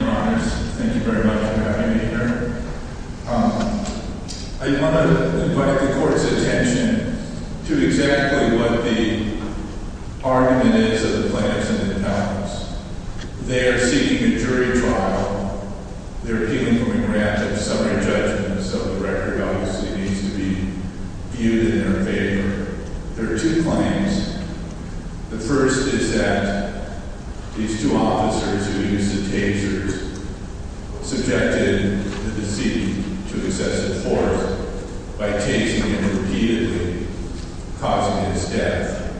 Thank you very much for having me here. I want to invite the court's attention to exactly what the argument is of the plaintiffs and the deputies. They are seeking a jury trial. They're appealing for a grant of summary judgment, so the record obviously needs to be viewed in their favor. There are two claims. The first is that these two officers who used the tasers subjected the deceased to excessive force by tasing him repeatedly, causing his death.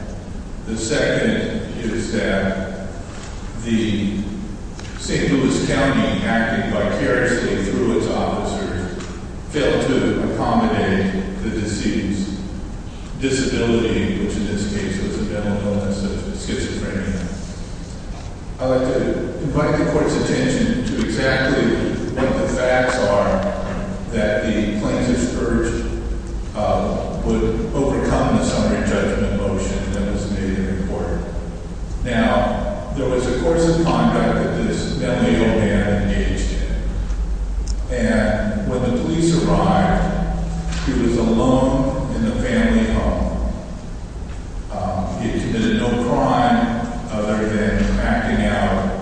The second is that the St. Louis County, acting vicariously through its officers, failed to accommodate the deceased's disability, which in this case was a mental illness of schizophrenia. I'd like to invite the court's attention to exactly what the facts are that the plaintiffs urged would overcome the summary judgment motion that was made in court. Now, there was a course of conduct that this mentally ill man engaged in, and when the police arrived, he was alone in the family home. He had committed no crime other than acting out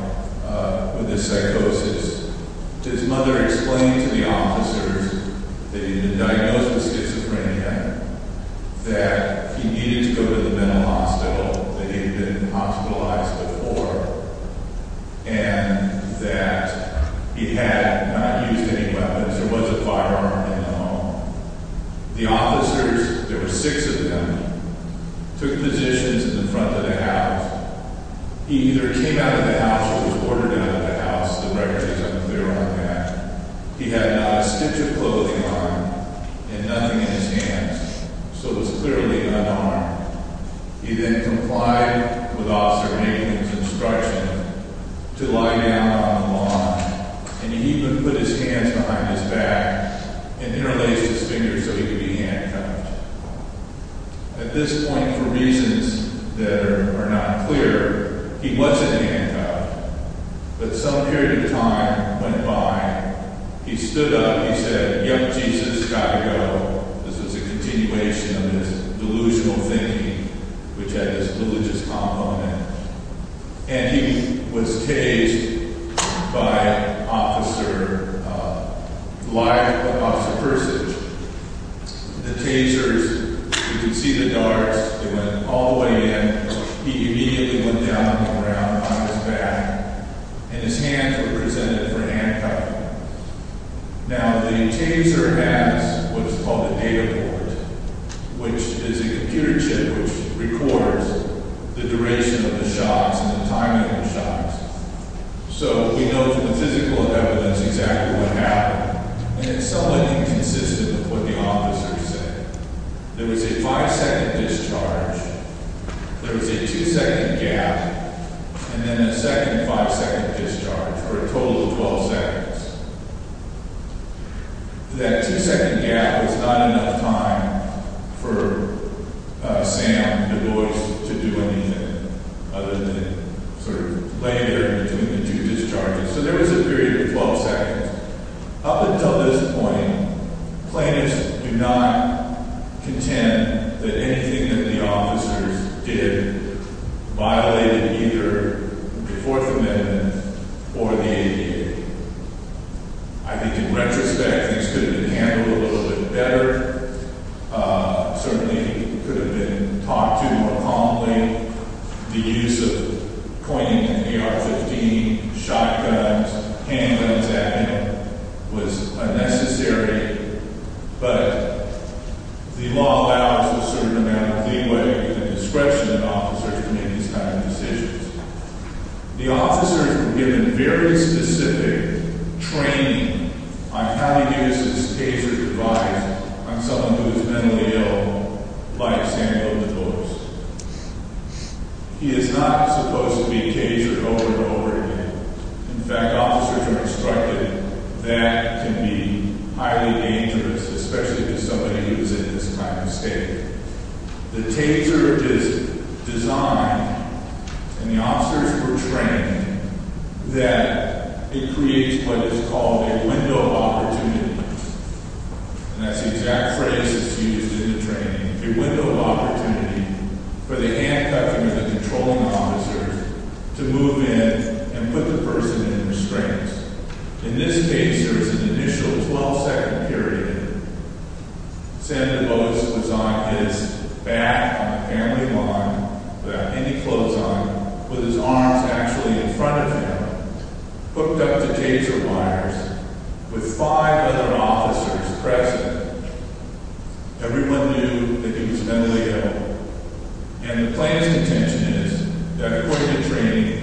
with his psychosis. His mother explained to the officers that he had been diagnosed with schizophrenia, that he needed to go to the mental hospital, that he had been hospitalized before, and that he had not used any weapons. There was a firearm in the home. The officers, there were six of them, took positions in the front of the house. He either came out of the house or was ordered out of the house. The records are unclear on that. He had not a stitch of clothing on him and nothing in his hands, so he was clearly unarmed. He then complied with Officer Nathan's instruction to lie down on the lawn, and he even put his hands behind his back and interlaced his fingers so he could be handcuffed. At this point, for reasons that are not clear, he wasn't handcuffed, but some period of time went by. He stood up, he said, yep, Jesus, gotta go. This was a continuation of his delusional thinking, which had this religious compliment. And he was caged by Officer Persich. The tasers, you could see the darts, they went all the way in. He immediately went down on the ground on his back, and his hands were presented for handcuffing. Now, the taser has what is called a data port, which is a computer chip which records the duration of the shots and the timing of the shots. So we know from the physical evidence exactly what happened, and it's somewhat inconsistent with what the officers said. There was a five-second discharge, there was a two-second gap, and then a second five-second discharge for a total of 12 seconds. That two-second gap was not enough time for Sam Du Bois to do anything other than sort of lay there between the two discharges. So there was a period of 12 seconds. Up until this point, plaintiffs do not contend that anything that the officers did violated either the Fourth Amendment or the ADA. I think in retrospect, things could have been handled a little bit better. Certainly, he could have been talked to more calmly. The use of pointing an AR-15, shotguns, handguns at him was unnecessary, but the law allows a certain amount of leeway and discretion of officers to make these kinds of decisions. The officers were given very specific training on how to use this taser device on someone who is mentally ill like Sam Du Bois. He is not supposed to be tasered over and over again. In fact, officers are instructed that can be highly dangerous, especially to somebody who is in this kind of state. The taser is designed, and the officers were trained, that it creates what is called a window of opportunity. And that's the exact phrase that's used in the training. A window of opportunity for the handcuffing of the controlling officers to move in and put the person in restraints. In this case, there is an initial 12-second period. Sam Du Bois was on his back on the family lawn without any clothes on with his arms actually in front of him, hooked up to taser wires with five other officers present. Everyone knew that he was mentally ill. And the plan's intention is that according to training,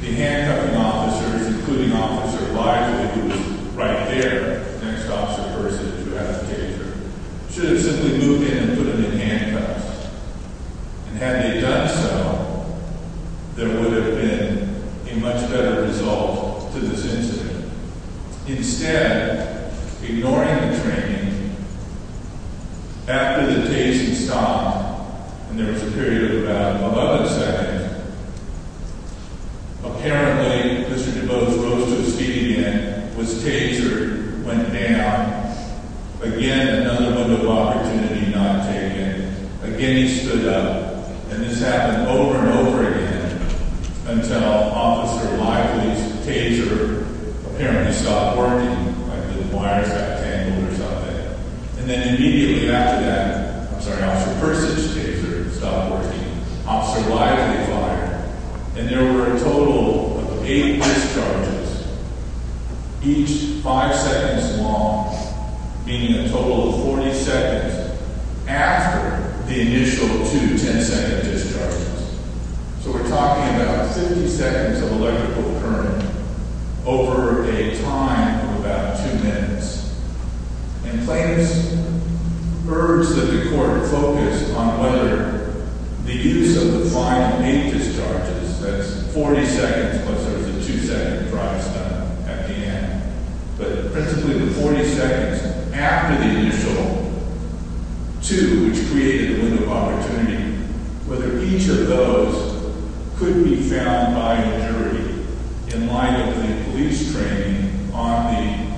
the handcuffing officers, including Officer Lively, who's right there, the next officer to have the taser, should have simply moved in and put him in handcuffs. And had they done so, there would have been a much better result to this incident. Instead, ignoring the training, after the taser stopped, and there was a period of about another second, apparently Mr. Du Bois rose to his feet again, was tasered, went down, again another window of opportunity not taken. Again he stood up, and this happened over and over again until Officer Lively's taser apparently stopped working. The wires got tangled or something. And then immediately after that, I'm sorry, Officer Persich's taser stopped working. Officer Lively fired, and there were a total of eight discharges, each five seconds long, meaning a total of 40 seconds after the initial two 10-second discharges. So we're talking about 50 seconds of electrical current over a time of about two minutes. And plaintiffs urged that the court focus on whether the use of the final eight discharges, that's 40 seconds plus there's a two-second drive stop at the end, but principally the 40 seconds after the initial two, which created the window of opportunity, whether each of those could be found by the jury in light of the police training on the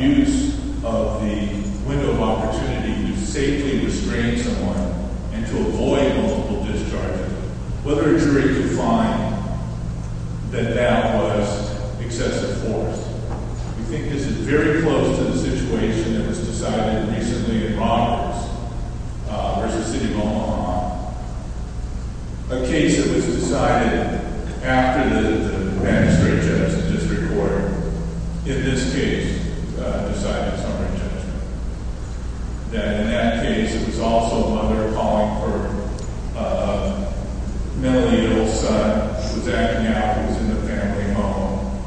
use of the window of opportunity to safely restrain someone and to avoid multiple discharges, whether a jury could find that that was excessive force. We think this is very close to the situation that was decided recently in Roberts versus City of Omaha. A case that was decided after the magistrate judge, the district court, in this case, decided summary judgment. That in that case, it was also a mother calling her mentally ill son was acting out. He was in the family home.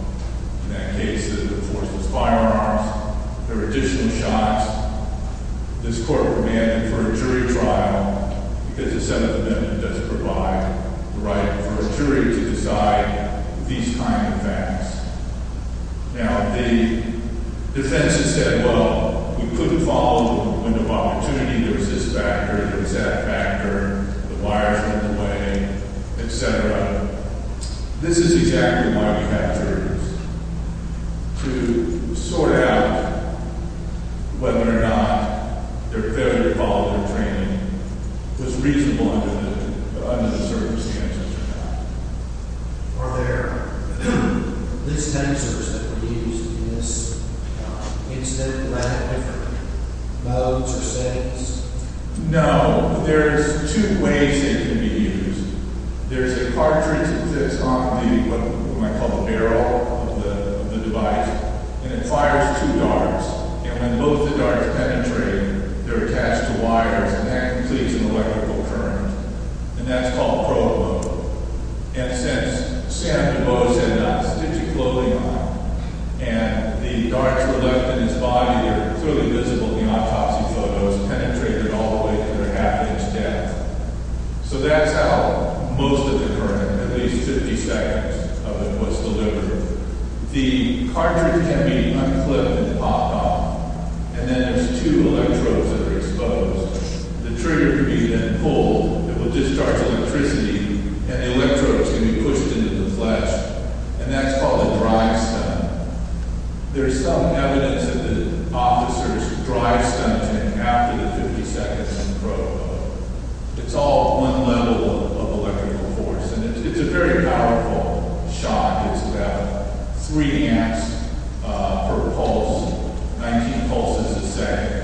In that case, the force was firearms. There were additional shots. This court remanded for a jury trial because the Senate amendment doesn't provide the right for a jury to decide these kind of facts. Now, the defense has said, well, we couldn't follow the window of opportunity. There was this factor. There was that factor. The wires were in the way, et cetera. This is exactly why we had jurors to sort out whether or not their failure to follow their training was reasonable under the circumstances or not. Are there list answers that can be used in this incident? Do I have different modes or settings? No. There's two ways it can be used. There's a cartridge that's on the barrel of the device, and it fires two darts. And when both the darts penetrate, they're attached to wires, and that completes an electrical current. And that's called prologue. And since Sam DuBose had not stitched his clothing on and the darts were left in his body, they're clearly visible in the autopsy photos, penetrated all the way to the half-inch depth. So that's how most of the current, at least 50 seconds of it, was delivered. The cartridge can be unclipped and popped off, and then there's two electrodes that are exposed. The trigger can be then pulled. It will discharge electricity, and the electrodes can be pushed into the flesh, and that's called a drive stunt. There's some evidence that the officers drive stunts after the 50 seconds in prologue. It's all one level of electrical force, and it's a very powerful shot. It's about 3 amps per pulse, 19 pulses a second.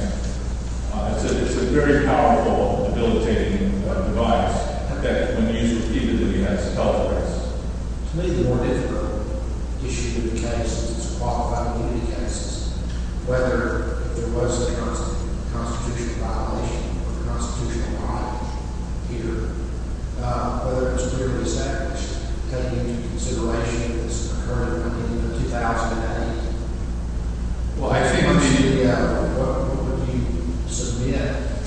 It's a very powerful debilitating device that, when used repeatedly, has health effects. To me, the more difficult issue with the case is its qualifiability cases. Whether there was a constitutional violation or a constitutional bond here, whether it's clearly established, taking into consideration that this occurred in 2008. Well, I think we need to get out of it. What would you submit?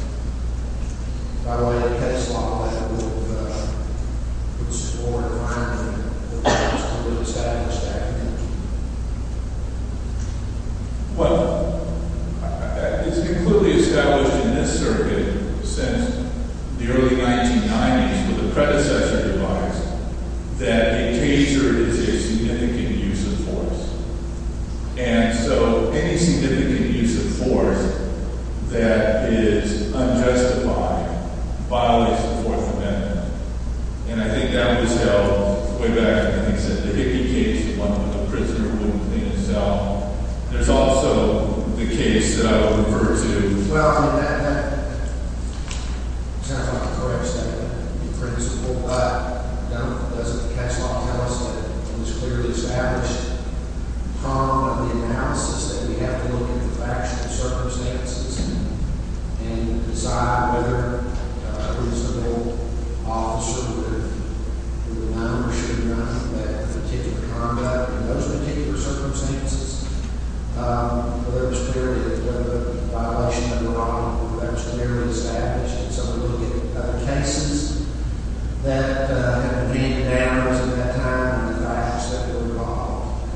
By the way, it takes a lot of lab work to support a fine print, but it's clearly established back then. Well, it's been clearly established in this circuit since the early 1990s with the predecessor device that a taser is a significant use of force. And so any significant use of force that is unjustified violates the Fourth Amendment. And I think that was held way back when they said the Hickey case, the one where the prisoner wouldn't clean his cell. There's also the case that I would refer to. Well, I mean, that sounds like a correct statement, in principle. But doesn't the case law tell us that it was clearly established upon the analysis that we have to look at the factual circumstances and decide whether a reasonable officer would have known or should have known that the particular conduct in those particular circumstances, whether it was clearly a violation of the law, that was clearly established. And so we look at cases that have been down since that time, and I ask that they're brought up.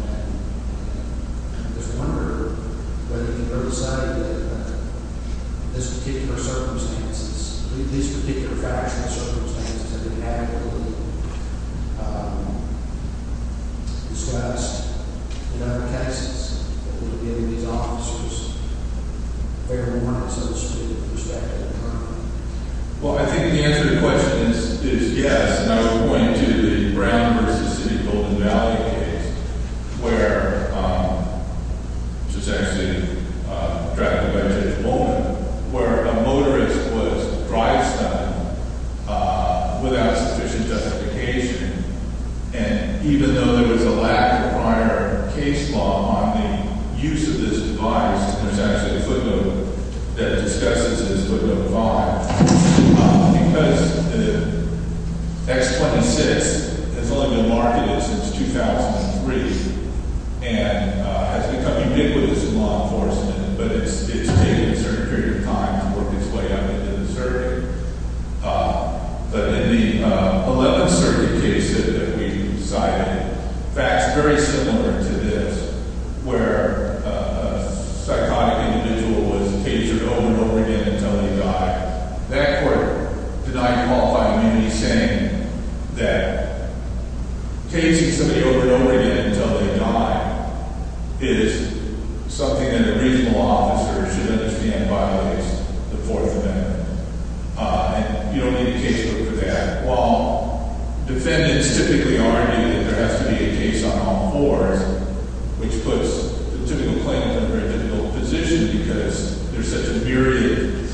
I just wonder whether you can go to the side of this particular circumstances, these particular factual circumstances that have been adequately discussed in other cases, that would give these officers fair warnings in the street with respect to the crime. Well, I think the answer to the question is yes. And I would point you to the Brown v. City of Golden Valley case, which was actually drafted by Judge Molden, where a motorist was drive-stunned without sufficient justification. And even though there was a lack of prior case law on the use of this device, there's actually a footnote that discusses this footnote a lot. Because the X-26 has only been marketed since 2003 and has become ubiquitous in law enforcement, but it's taken a certain period of time to work its way up into the circuit. But in the 11th Circuit case that we cited, facts very similar to this, where a psychotic individual was caged over and over again until they died. That court denied qualified immunity, saying that caging somebody over and over again until they die is something that a reasonable officer should understand, by the way, is the Fourth Amendment. And you don't need a case book for that. While defendants typically argue that there has to be a case on all fours, which puts the typical plaintiff in a very difficult position because there's such a myriad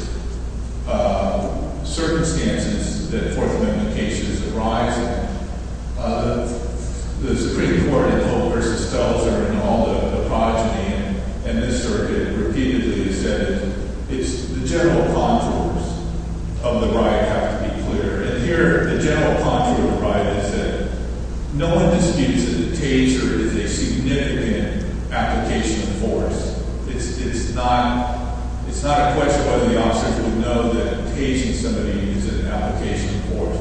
of circumstances that Fourth Amendment cases arise in. The Supreme Court in Hope v. Stelzer and all the progeny in this circuit repeatedly said the general contours of the right have to be clear. And here the general contour of the right is that no one disputes that a cager is a significant application of force. It's not a question whether the officer should know that caging somebody is an application of force.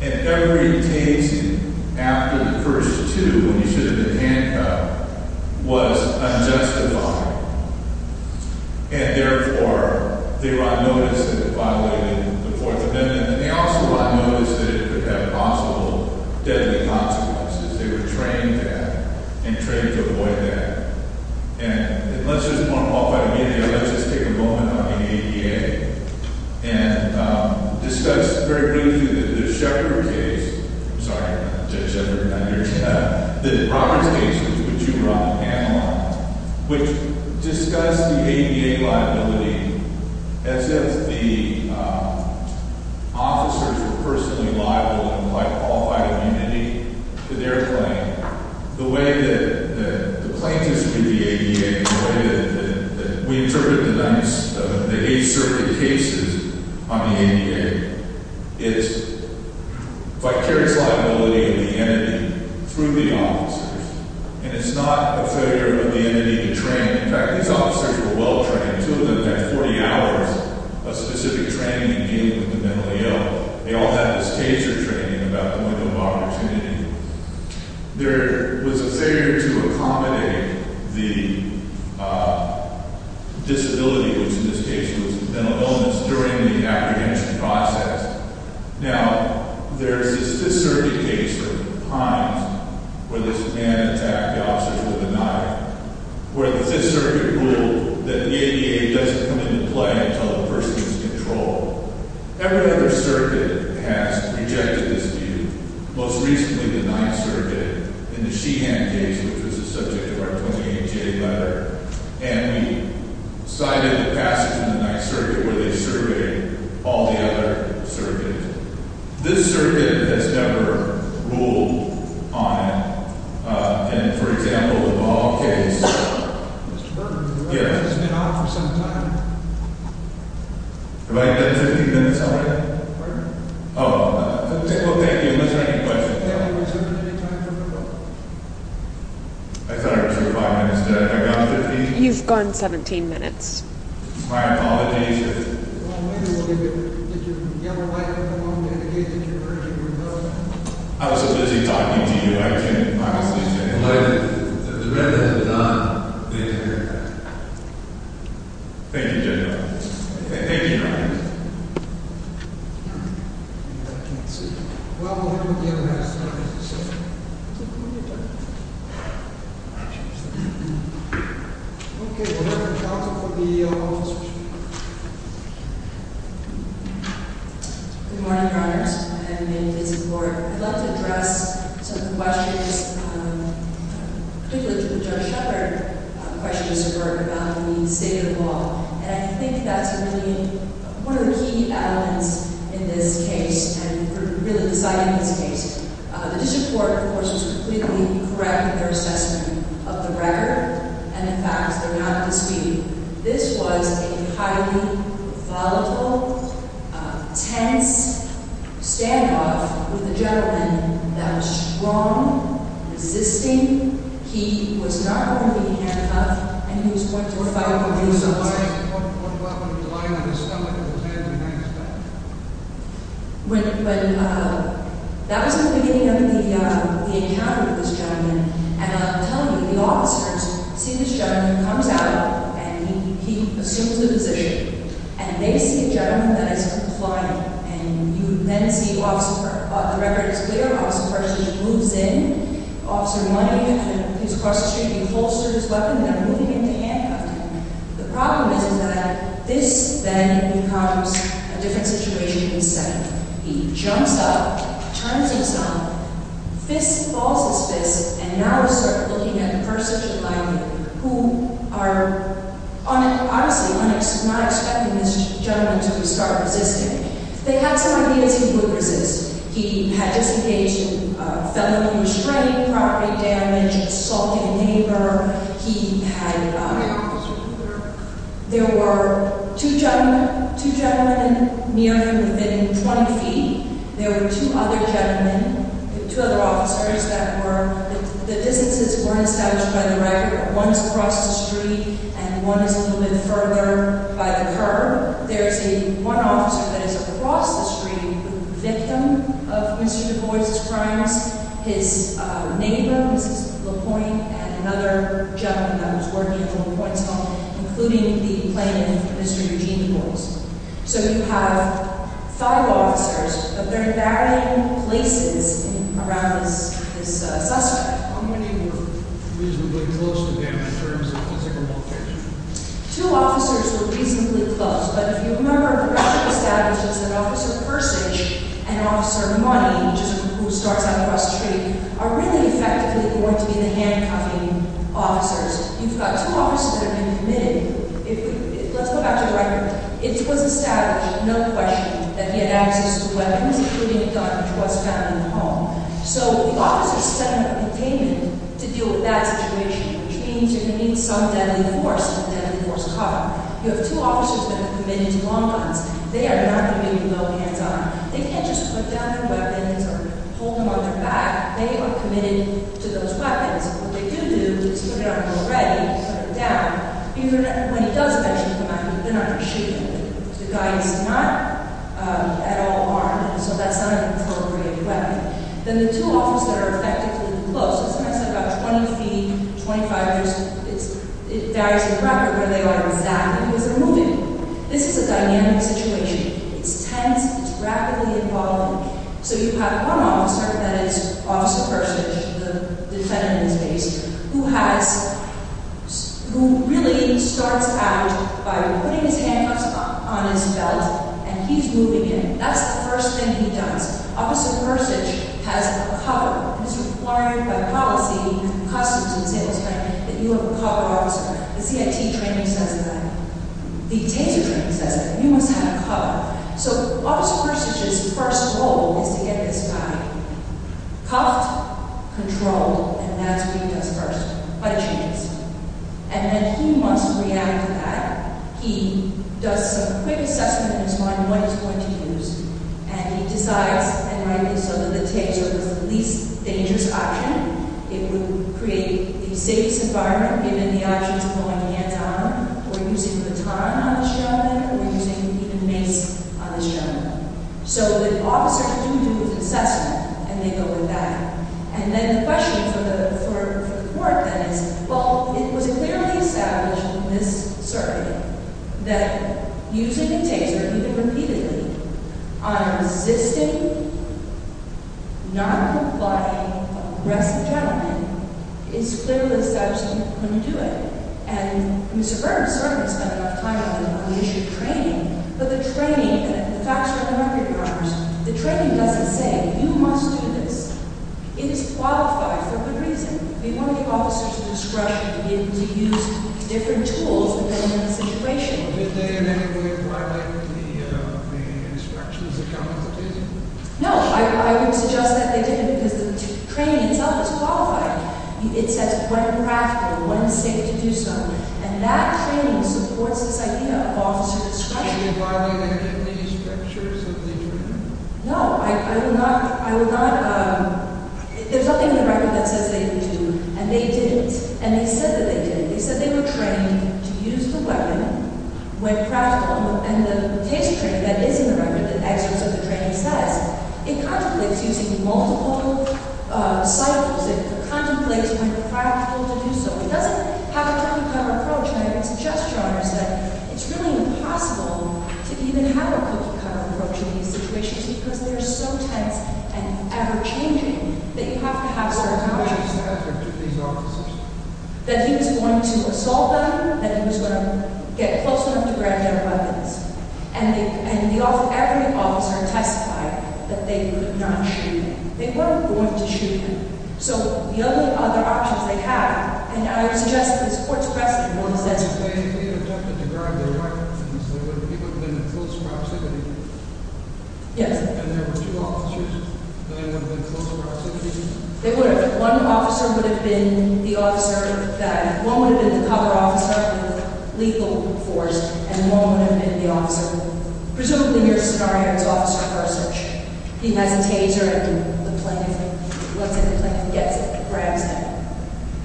And every case after the first two, when you should have been handcuffed, was unjustified. And, therefore, they were on notice of violating the Fourth Amendment. They also were on notice that it could have possible deadly consequences. They were trained to have and trained to avoid that. And let's just, off by the way, let's just take a moment on the ADA and discuss very briefly the Sheppard case. I'm sorry, not Sheppard. The Roberts case, which you brought the panel on, which discussed the ADA liability as if the officers were personally liable and qualified immunity to their claim. The way that the plaintiffs view the ADA, the way that we interpret the eight circuit cases on the ADA, it's vicarious liability of the entity through the officers. And it's not a failure of the entity to train. In fact, these officers were well trained. Two of them had 40 hours of specific training in dealing with the mentally ill. They all had this case or training about the window of opportunity. There was a failure to accommodate the disability, which in this case was mental illness, during the apprehension process. Now, there's this circuit case of Hines, where this man attacked the officers with a knife, where the circuit ruled that the ADA doesn't come into play until the person is controlled. Every other circuit has rejected this view, most recently the Ninth Circuit in the Sheehan case, which was the subject of our 28-J letter. And we cited a passage in the Ninth Circuit where they surveyed all the other circuits. This circuit has never ruled on, for example, the Ball case. Mr. Burton, the Roberts has been on for some time. Have I done 15 minutes already? Pardon? Oh, well, thank you. Unless you have any questions. Did I reserve any time for a vote? I thought I reserved five minutes. Did I? Have I gone 15? You've gone 17 minutes. My accommodation. Well, maybe we'll give you a little bit. Do you have a light at the moment? Do you have a case that you're urging for a vote? I was just busy talking to you. I can't obviously say anything. The Redmond has not been here. Thank you, Judge Roberts. Thank you, Judge Roberts. Good morning, Your Honors. I have an email to visit the Board. I'd love to address some of the questions, particularly to Judge Shepard. The question is about the State of the Law. And I think that's really one of the key elements in this case and for really deciding this case. The District Court, of course, was completely correct in their assessment of the record. And, in fact, they're not disputing. This was a highly volatile, tense standoff with a gentleman that was strong, resisting. He was not wearing a handcuff. And he was 45 degrees outside. He was lying on his stomach with his hands behind his back. But that was the beginning of the encounter with this gentleman. And I'm telling you, the officers see this gentleman comes out, and he assumes the position. And they see a gentleman that is complying. And you then see the record is clear. There was a person who moves in, Officer Money. He's crossing the street. He holsters his weapon. They're moving in to handcuff him. The problem is that this then becomes a different situation in the setting. He jumps up, turns himself, falls his fist. And now we start looking at a person who is lying there, who are honestly not expecting this gentleman to start resisting. They had some ideas who would resist. He had just engaged in felony restraint, property damage, assaulting a neighbor. He had, there were two gentlemen near him within 20 feet. There were two other gentlemen, two other officers that were, the distances weren't established by the record. One is across the street, and one is a little bit further by the curb. There's one officer that is across the street, the victim of Mr. Du Bois' crimes. His neighbor, Mrs. LaPointe, had another gentleman that was working at LaPointe's home, including the plaintiff, Mr. Eugene Du Bois. So you have five officers, but they're in varying places around this suspect. How many were reasonably close to them in terms of physical contact? Two officers were reasonably close. But if you remember, the record establishes that Officer Persich and Officer Money, who starts out across the street, are really effectively going to be the handcuffing officers. You've got two officers that have been committed. Let's go back to the record. It was established, no question, that he had access to weapons, including a gun, which was found in the home. So the officers set up containment to deal with that situation, which means you're going to need some deadly force, some deadly force cop. You have two officers that have been committed to long guns. They are not going to make you go hands-on. They can't just put down their weapons or hold them on their back. They are committed to those weapons. What they do do is put it on you already, put it down. Even when he does mention the weapon, they're not going to shoot you. The guy is not at all armed, so that's not an appropriate weapon. Then the two officers are effectively close. Sometimes they're about 20 feet, 25 years. It varies with the record where they are exactly because they're moving. This is a dynamic situation. It's tense. It's rapidly evolving. So you have one officer, that is Officer Persich, the defendant in this case, who really starts out by putting his handcuffs on his belt, and he's moving in. That's the first thing he does. Officer Persich has a cover. It is required by policy, customs, etc., that you have a cover officer. The CIT training says that. The Taser training says that. You must have a cover. So Officer Persich's first role is to get this guy cuffed, controlled, and that's what he does first. But it changes. And then he must react to that. He does some quick assessment in his mind of what he's going to use, and he decides and writes this over the Taser. It's the least dangerous option. It would create the safest environment given the options of going hand-to-arm or using a baton on the showman or using even a mace on this gentleman. So the officer can do his assessment, and they go with that. And then the question for the court, then, is, well, it was clearly established in this circuit that using the Taser, even repeatedly, on a resisting, noncompliant, aggressive gentleman is clearly established when you do it. And Mr. Burns certainly spent enough time on the issue of training. But the training, and the facts are in the record, Congress, the training doesn't say, you must do this. It is qualified for good reason. We want the officers at discretion to be able to use different tools depending on the situation. Did they in any way violate the instructions that come with the Taser? No. It says when practical, when safe to do so. And that training supports this idea of officer discretion. Did they violate any of the instructions that they were given? No. I will not, I will not, there's nothing in the record that says they didn't do, and they didn't, and they said that they did. They said they were trained to use the weapon when practical, and the Taser training that is in the record, the excerpts of the training says, it contemplates using multiple silencers. It contemplates when practical to do so. It doesn't have a cookie-cutter approach. And I would suggest, Your Honors, that it's really impossible to even have a cookie-cutter approach in these situations because they're so tense and ever-changing that you have to have certain boundaries. What was the effort of these officers? That he was going to assault them, that he was going to get close enough to grab their weapons. And every officer testified that they would not shoot him. They weren't going to shoot him. So the only other options they had, and I would suggest to this Court's precedent, what was that? They had attempted to grab their weapons. They would have been in close proximity. Yes. And there were two officers. They would have been close proximity. They would have. One officer would have been the officer that, one would have been the cover officer in the legal force, and one would have been the officer. Presumably, in your scenario, it's Officer Persich. He has a taser and the plaintiff, let's say the plaintiff gets it, grabs him.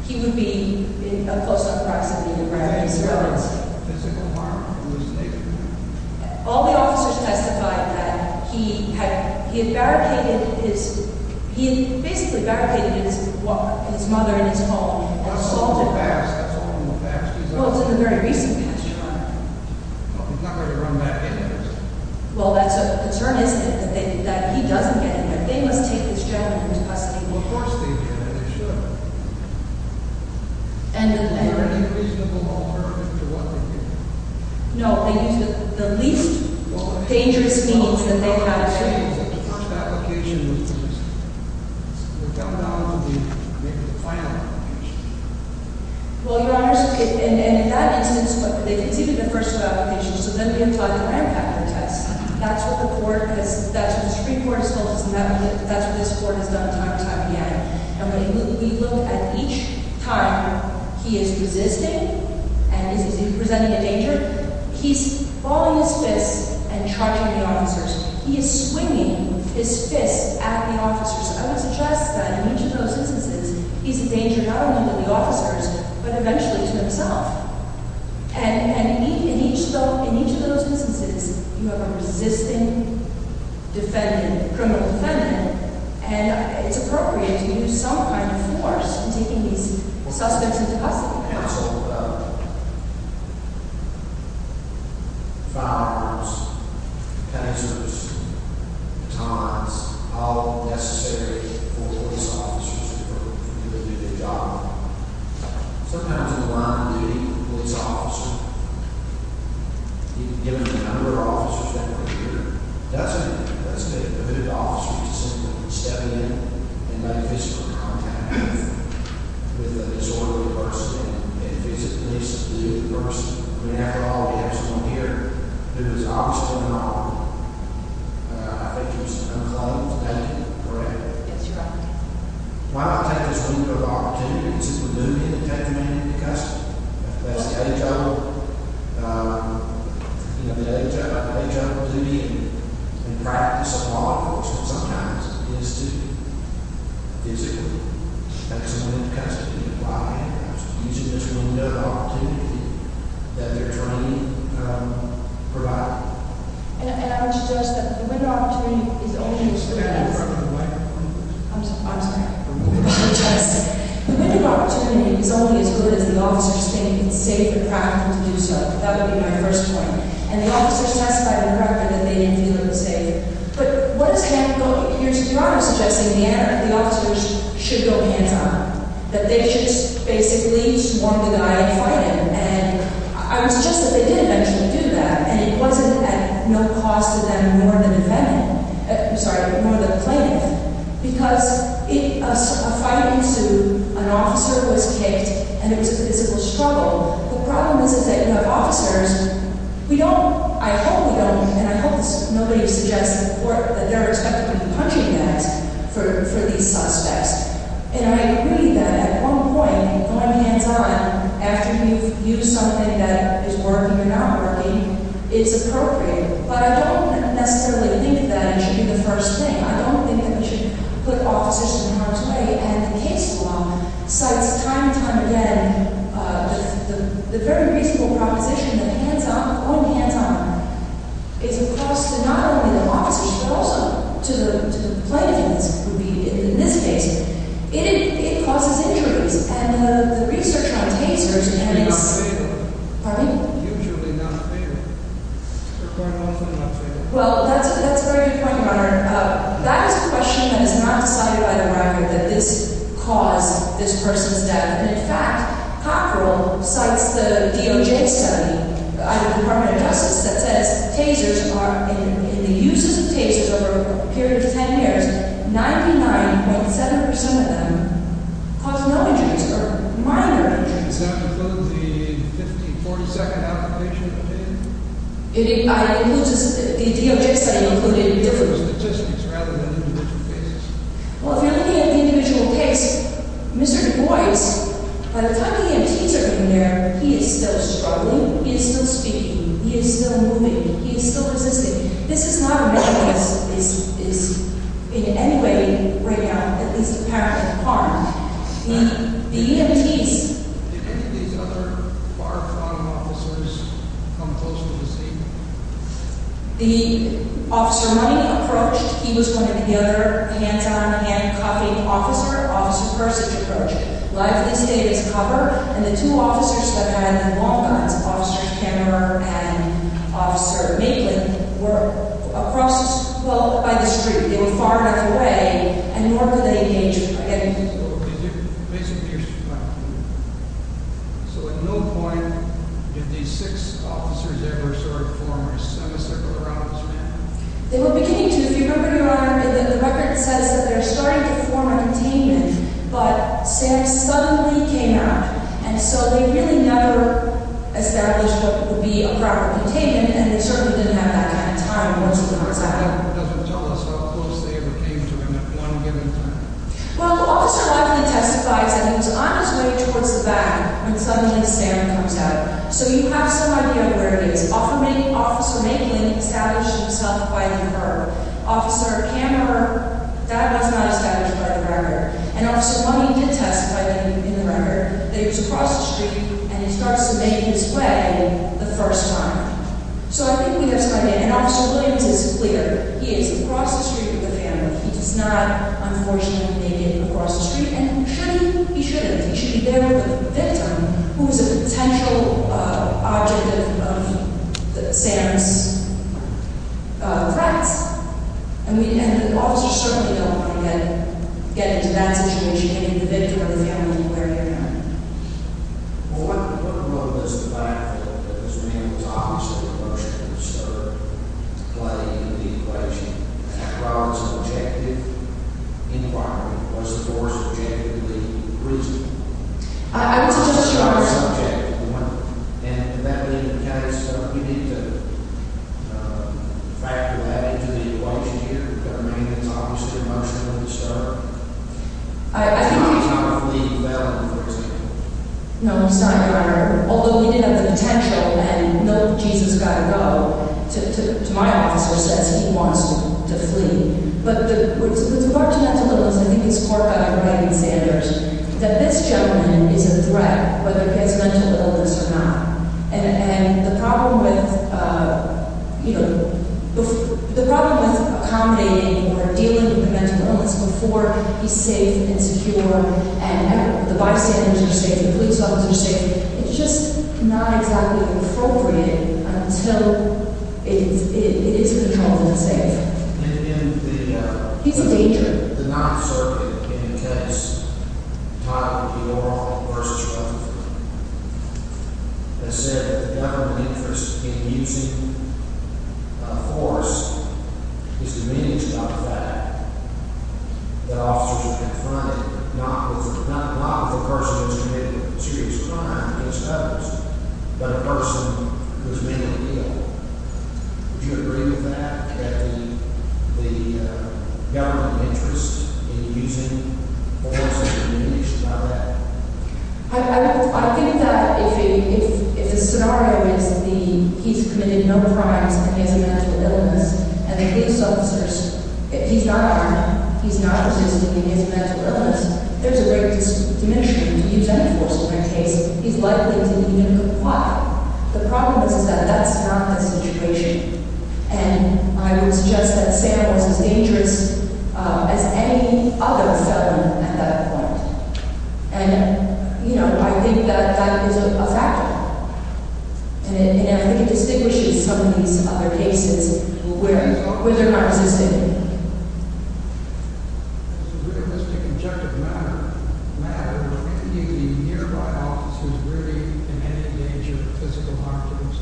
He would be in close proximity to grab his weapons. Physical harm, hallucination. All the officers testified that he had barricaded his, he had basically barricaded his mother and his home. Assaulted her. That's all in the past. That's all in the past. He's not going to run back into this. Well, that's a concern is that he doesn't get in there. They must take this gentleman into custody. Well, of course they did, and they should. And the men were— Was there any reasonable alternative to what they did? They used the least dangerous means that they had available. Well, I'm not saying that the first application was the least. It would come down to maybe the final application. Well, Your Honors, in that instance, they conceded the first application. So then we apply the ram factor test. That's what the Supreme Court has told us, and that's what this Court has done time and time again. And when we look at each time, he is resisting, and is he presenting a danger? He's following his fists and charging the officers. He is swinging his fists at the officers. I would suggest that in each of those instances, he's a danger not only to the officers, but eventually to himself. And in each of those instances, you have a resisting criminal defendant, and it's appropriate to use some kind of force in taking these suspects into custody. The Supreme Court counseled firearms, pincers, batons, all necessary for police officers to do their job. Sometimes in the line of duty, the police officer, given the number of officers that were here, doesn't let the hooded officers simply step in and make physical contact with a disordered person. And if it's a police officer, we have to have someone here who is obviously in the wrong. I think you're just going to call him to take him, correct? Yes, Your Honor. Why don't I take this window of opportunity, because it's the duty to take the man into custody. That's the age-old duty in the practice of law enforcement sometimes, is to physically take someone into custody. Why? Using this window of opportunity that they're trying to provide. And I would suggest that the window of opportunity is only as good as the officers. I'm sorry. The window of opportunity is only as good as the officers think it's safe and practical to do so. That would be my first point. And the officers testified in the record that they didn't feel it was safe. But what does that mean? Your Honor is suggesting the officers should go hands-on. That they should basically just warn the guy and fight him. And I would suggest that they did eventually do that. And it wasn't at no cost to them more than the defendant. I'm sorry, more than the plaintiff. Because a fight ensued, an officer was kicked, and it was a physical struggle. The problem is that the officers, we don't, I hope we don't, and I hope nobody suggests in court that they're expected to be punching bags for these suspects. And I agree that at one point, going hands-on, after you've used something that is working or not working, it's appropriate. But I don't necessarily think that it should be the first thing. I don't think that we should put officers in harm's way. And the case law cites time and time again the very reasonable proposition that going hands-on is a cost not only to the officers, but also to the plaintiffs. In this case, it causes injuries. And the research on tasers and headaches… They're not available. Pardon me? Usually not available. They're quite often not available. Well, that's a very good point, Your Honor. That is a question that is not decided by the minor, that this caused this person's death. And, in fact, Cockrell cites the DOJ study, the Department of Justice, that says tasers are, in the uses of tasers over a period of 10 years, 99.7% of them caused no injuries for a minor. And does that include the 50, 40-second application? The DOJ study included different… Different statistics rather than individual cases. Well, if you're looking at the individual case, Mr. Du Bois, by the time the EMTs are in there, he is still struggling. He is still speaking. He is still moving. He is still resisting. This is not a measure that is in any way, right now, at least apparently, harm. The EMTs… Did any of these other far-crowned officers come close to the scene? The officer running approached. He was one of the other hands-on, hand-cuffing officer. Officer Persich approached. Life of the state is covered, and the two officers that had long guns, Officer Kemmerer and Officer Maitland, were across, well, by the street. They were far enough away, and nor could they engage him by getting too close. So, basically, you're saying… So, at no point did these six officers ever sort of form a semicircle around this man? They were beginning to. If you remember, Your Honor, the record says that they're starting to form a containment, but Sam suddenly came out. And so they really never established what would be a proper containment, and they certainly didn't have that kind of time once he went outside. But that doesn't tell us how close they ever came to him at one given time. Well, Officer Lively testifies that he was on his way towards the back when suddenly Sam comes out. So you have some idea where he is. Officer Maitland established himself by the curb. Officer Kemmerer, that was not established by the record. And Officer Lively did testify in the record that he was across the street, and he starts to make his way the first time. So I think we have some idea. And Officer Williams is clear. He is across the street from the family. He does not, unfortunately, make it across the street. And he shouldn't. He should be there with the victim, who is a potential object of Sam's threats. And the officers certainly don't want to get into that situation, hitting the victim or the family where they're at. Well, what role does the fact that this man was obviously emotionally disturbed play in the equation? After all, it's an objective inquiry. Was the force objectively reasonable? I would suggest you are right. And would that be the case? Do we need to factor that into the equation here, that a man is obviously emotionally disturbed? I think he's not going to flee well in the first place. No, he's not, Your Honor. Although he did have the potential, and no, Jesus has got to go, to my officer says he wants to flee. But with regard to mental illness, I think it's clear by the way he said it, that this gentleman is a threat, whether it's mental illness or not. And the problem with accommodating or dealing with a mental illness before he's safe and secure, and the bystanders are safe, the police officers are safe, it's just not exactly appropriate until it is controlled and safe. He's a danger. In the Ninth Circuit, in a case titled O'Rourke v. Rutherford, it said that the government interest in using force is diminished by the fact that officers are confronted, not with a person who has committed a serious crime against others, but a person who has made a deal. Would you agree with that, that the government interest in using force is diminished by that? I think that if the scenario is that he's committed no crimes against a mental illness, and the police officers, he's not armed, he's not resisting against a mental illness, there's a great diminishment. He's unenforced in that case. He's likely to be going to comply. The problem is that that's not the situation. And I would suggest that Sam was as dangerous as any other felon at that point. And, you know, I think that that is a factor. And I think it distinguishes some of these other cases where they're not resisting. The realistic, objective matter, were any of the nearby officers really in any danger of physical harm to themselves? Please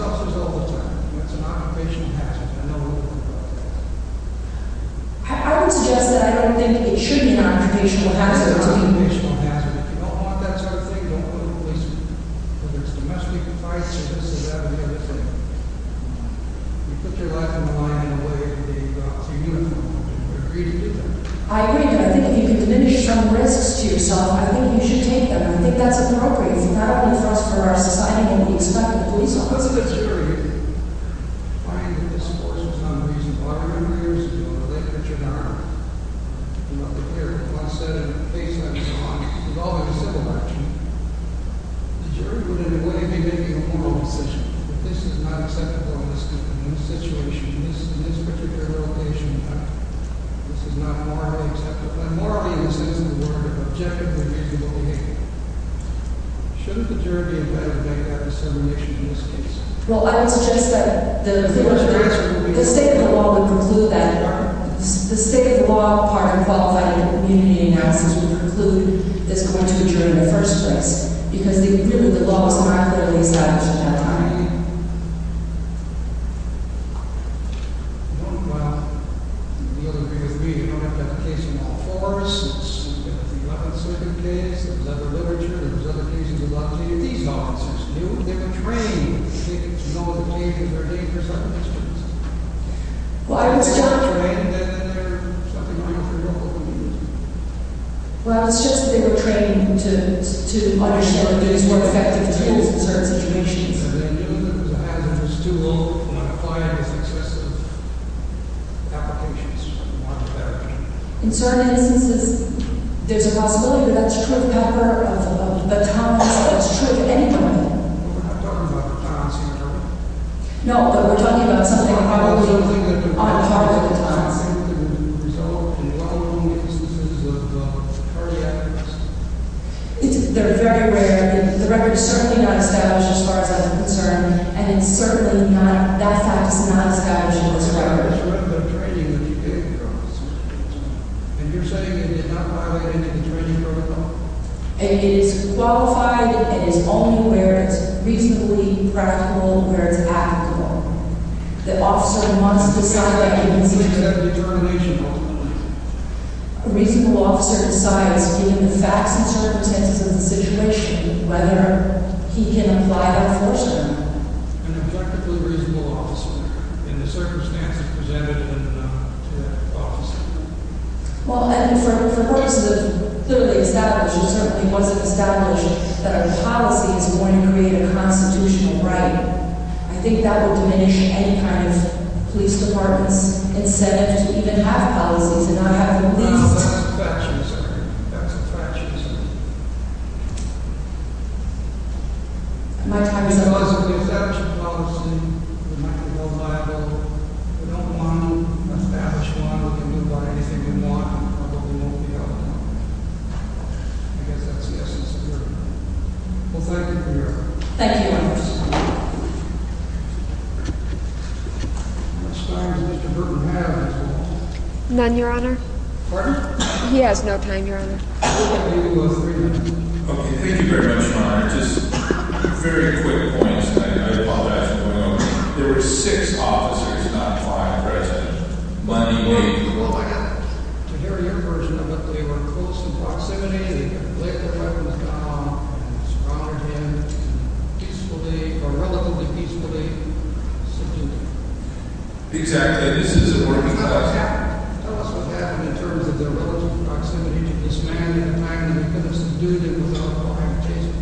also tell the public that it's an occupational hazard. I know a little bit about that. It's an occupational hazard. It's an occupational hazard. If you don't want that sort of thing, don't go to the police. Whether it's domestic fights or this or that or the other thing, you put your life on the line in a way that you're not too uniform. Would you agree to do that? I agree. I think if you can diminish some risks to yourself, I think you should take them. I think that's appropriate. If you're not unenforced by our society, then what do you expect the police officer to do? I find that this course was not reasonable. I remember years ago, a late pitcher in our army. He was wearing a corset and a facelift and so on, involving civil action. The jury would, in a way, be making a moral decision. If this is not acceptable in this situation, in this particular location, then this is not morally acceptable. By morally, this isn't a word of objective and reasonable behavior. Shouldn't the jury be invited back after dissemination in this case? Well, I would suggest that the state of the law would conclude that part. The state of the law, part of qualifying the community analysis, would conclude that it's going to be jury in the first place. Because the law was not clearly established at that time. I agree. You don't have to have a case in all fours. You don't have to have a case in the second case. There was other literature. There was other cases. These officers knew. They were trained. They know what the case is. They're ready for certain questions. Well, I would suggest that they were trained to understand that these were effective tools in certain situations. And they knew that it was a hazardous tool when applied with excessive applications from one to the other. In certain instances, there's a possibility that that's true of pepper, of batons. That's true of any weapon. No, but we're talking about something probably on top of the batons. They're very rare. The record is certainly not established as far as I'm concerned. And it's certainly not – that fact is not established in this record. And you're saying it did not violate any of the training protocol? It is qualified. It is only where it's reasonably practical and where it's applicable. The officer wants to decide that he can use it. It's a determination ultimately. A reasonable officer decides, given the facts and circumstances of the situation, whether he can apply that force to them. An effectively reasonable officer, in the circumstances presented to that officer. Well, and for purposes of clearly established, it certainly wasn't established, that a policy is going to create a constitutional right. I think that would diminish any kind of police department's incentive to even have policies and not have a list. No, that's a fraction, sir. That's a fraction, sir. My time is up. Well, thank you, Your Honor. Thank you, Your Honor. None, Your Honor. Pardon? He has no time, Your Honor. Okay, thank you very much, Your Honor. Just very quick points, and I apologize for going over. There were six officers, not five, present Monday morning. Well, I got to hear your version of it. They were close in proximity. They had laid their weapons down and surrounded him. Peacefully, or relatively peacefully, sitting there. Exactly. This isn't working for us. Tell us what happened. Tell us what happened in terms of their relative proximity to this man and the fact that he couldn't do anything without a warrant to chase him.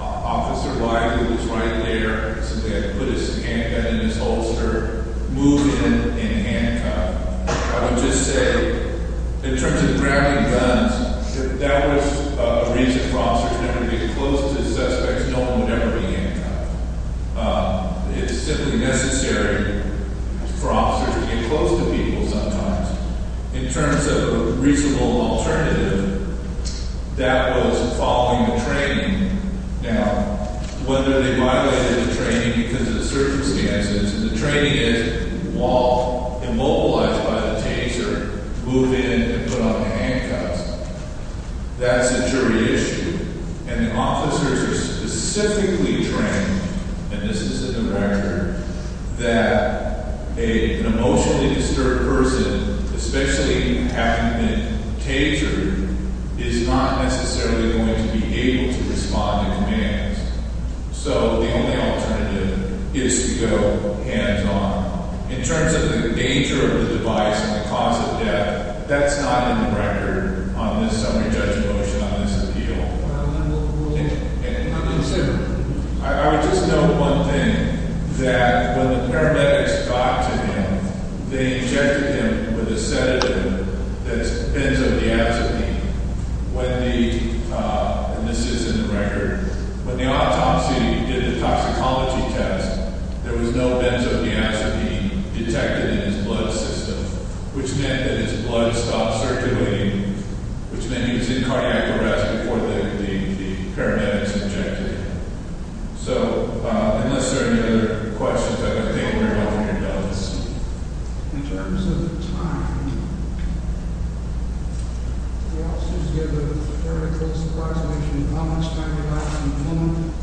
Officer White, who was right there, simply had to put his handgun in his holster, move in, and handcuff. I would just say, in terms of grabbing guns, that was a reason for officers never to get close to suspects. No one would ever be handcuffed. It's simply necessary for officers to get close to people sometimes. In terms of a reasonable alternative, that was following the training. Now, whether they violated the training because of the circumstances, and the training is walk, immobilize by the taser, move in, and put on handcuffs, that's a jury issue. And the officers are specifically trained, and this is in the record, that an emotionally disturbed person, especially having been tasered, is not necessarily going to be able to respond to commands. So, the only alternative is to go hands-on. In terms of the danger of the device and the cause of death, that's not in the record on this summary judge motion, on this appeal. I would just note one thing, that when the paramedics got to him, they injected him with a sedative that's benzodiazepine. And this is in the record. When the autopsy did the toxicology test, there was no benzodiazepine detected in his blood system, which meant that his blood stopped circulating, which meant he was in cardiac arrest before the paramedics injected him. So, unless there are any other questions, I think we're all done. In terms of time, the officers gave a very close approximation of how much time he lasted in the moment.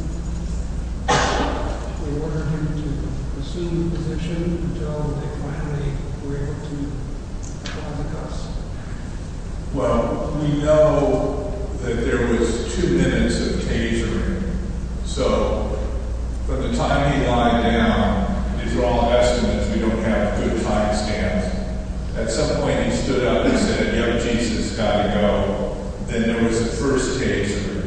They ordered him to resume the position until they finally were able to put on the cuffs. Well, we know that there was two minutes of tasering. So, from the time he lied down, his raw estimates, we don't have a good time stamp. At some point, he stood up and said, you know, Jesus, got to go. Then there was the first tasering.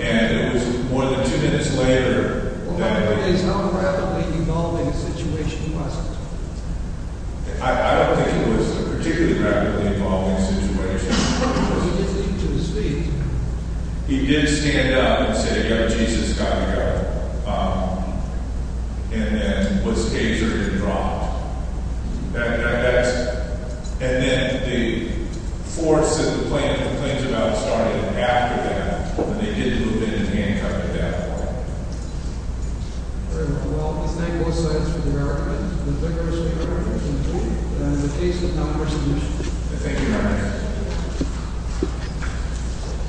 And it was more than two minutes later. Well, my question is, how rapidly evolving a situation was it? I don't think it was a particularly rapidly evolving situation. But he did leap to his feet. He did stand up and say, you know, Jesus, got to go. And then was tasered and dropped. That's it. And then the force that the plaintiff complains about started after that. And they did move in and handcuff him that way. Very well. We thank both sides for their argument. We thank our speaker for his input. And in the case of non-persuasion. I thank you very much.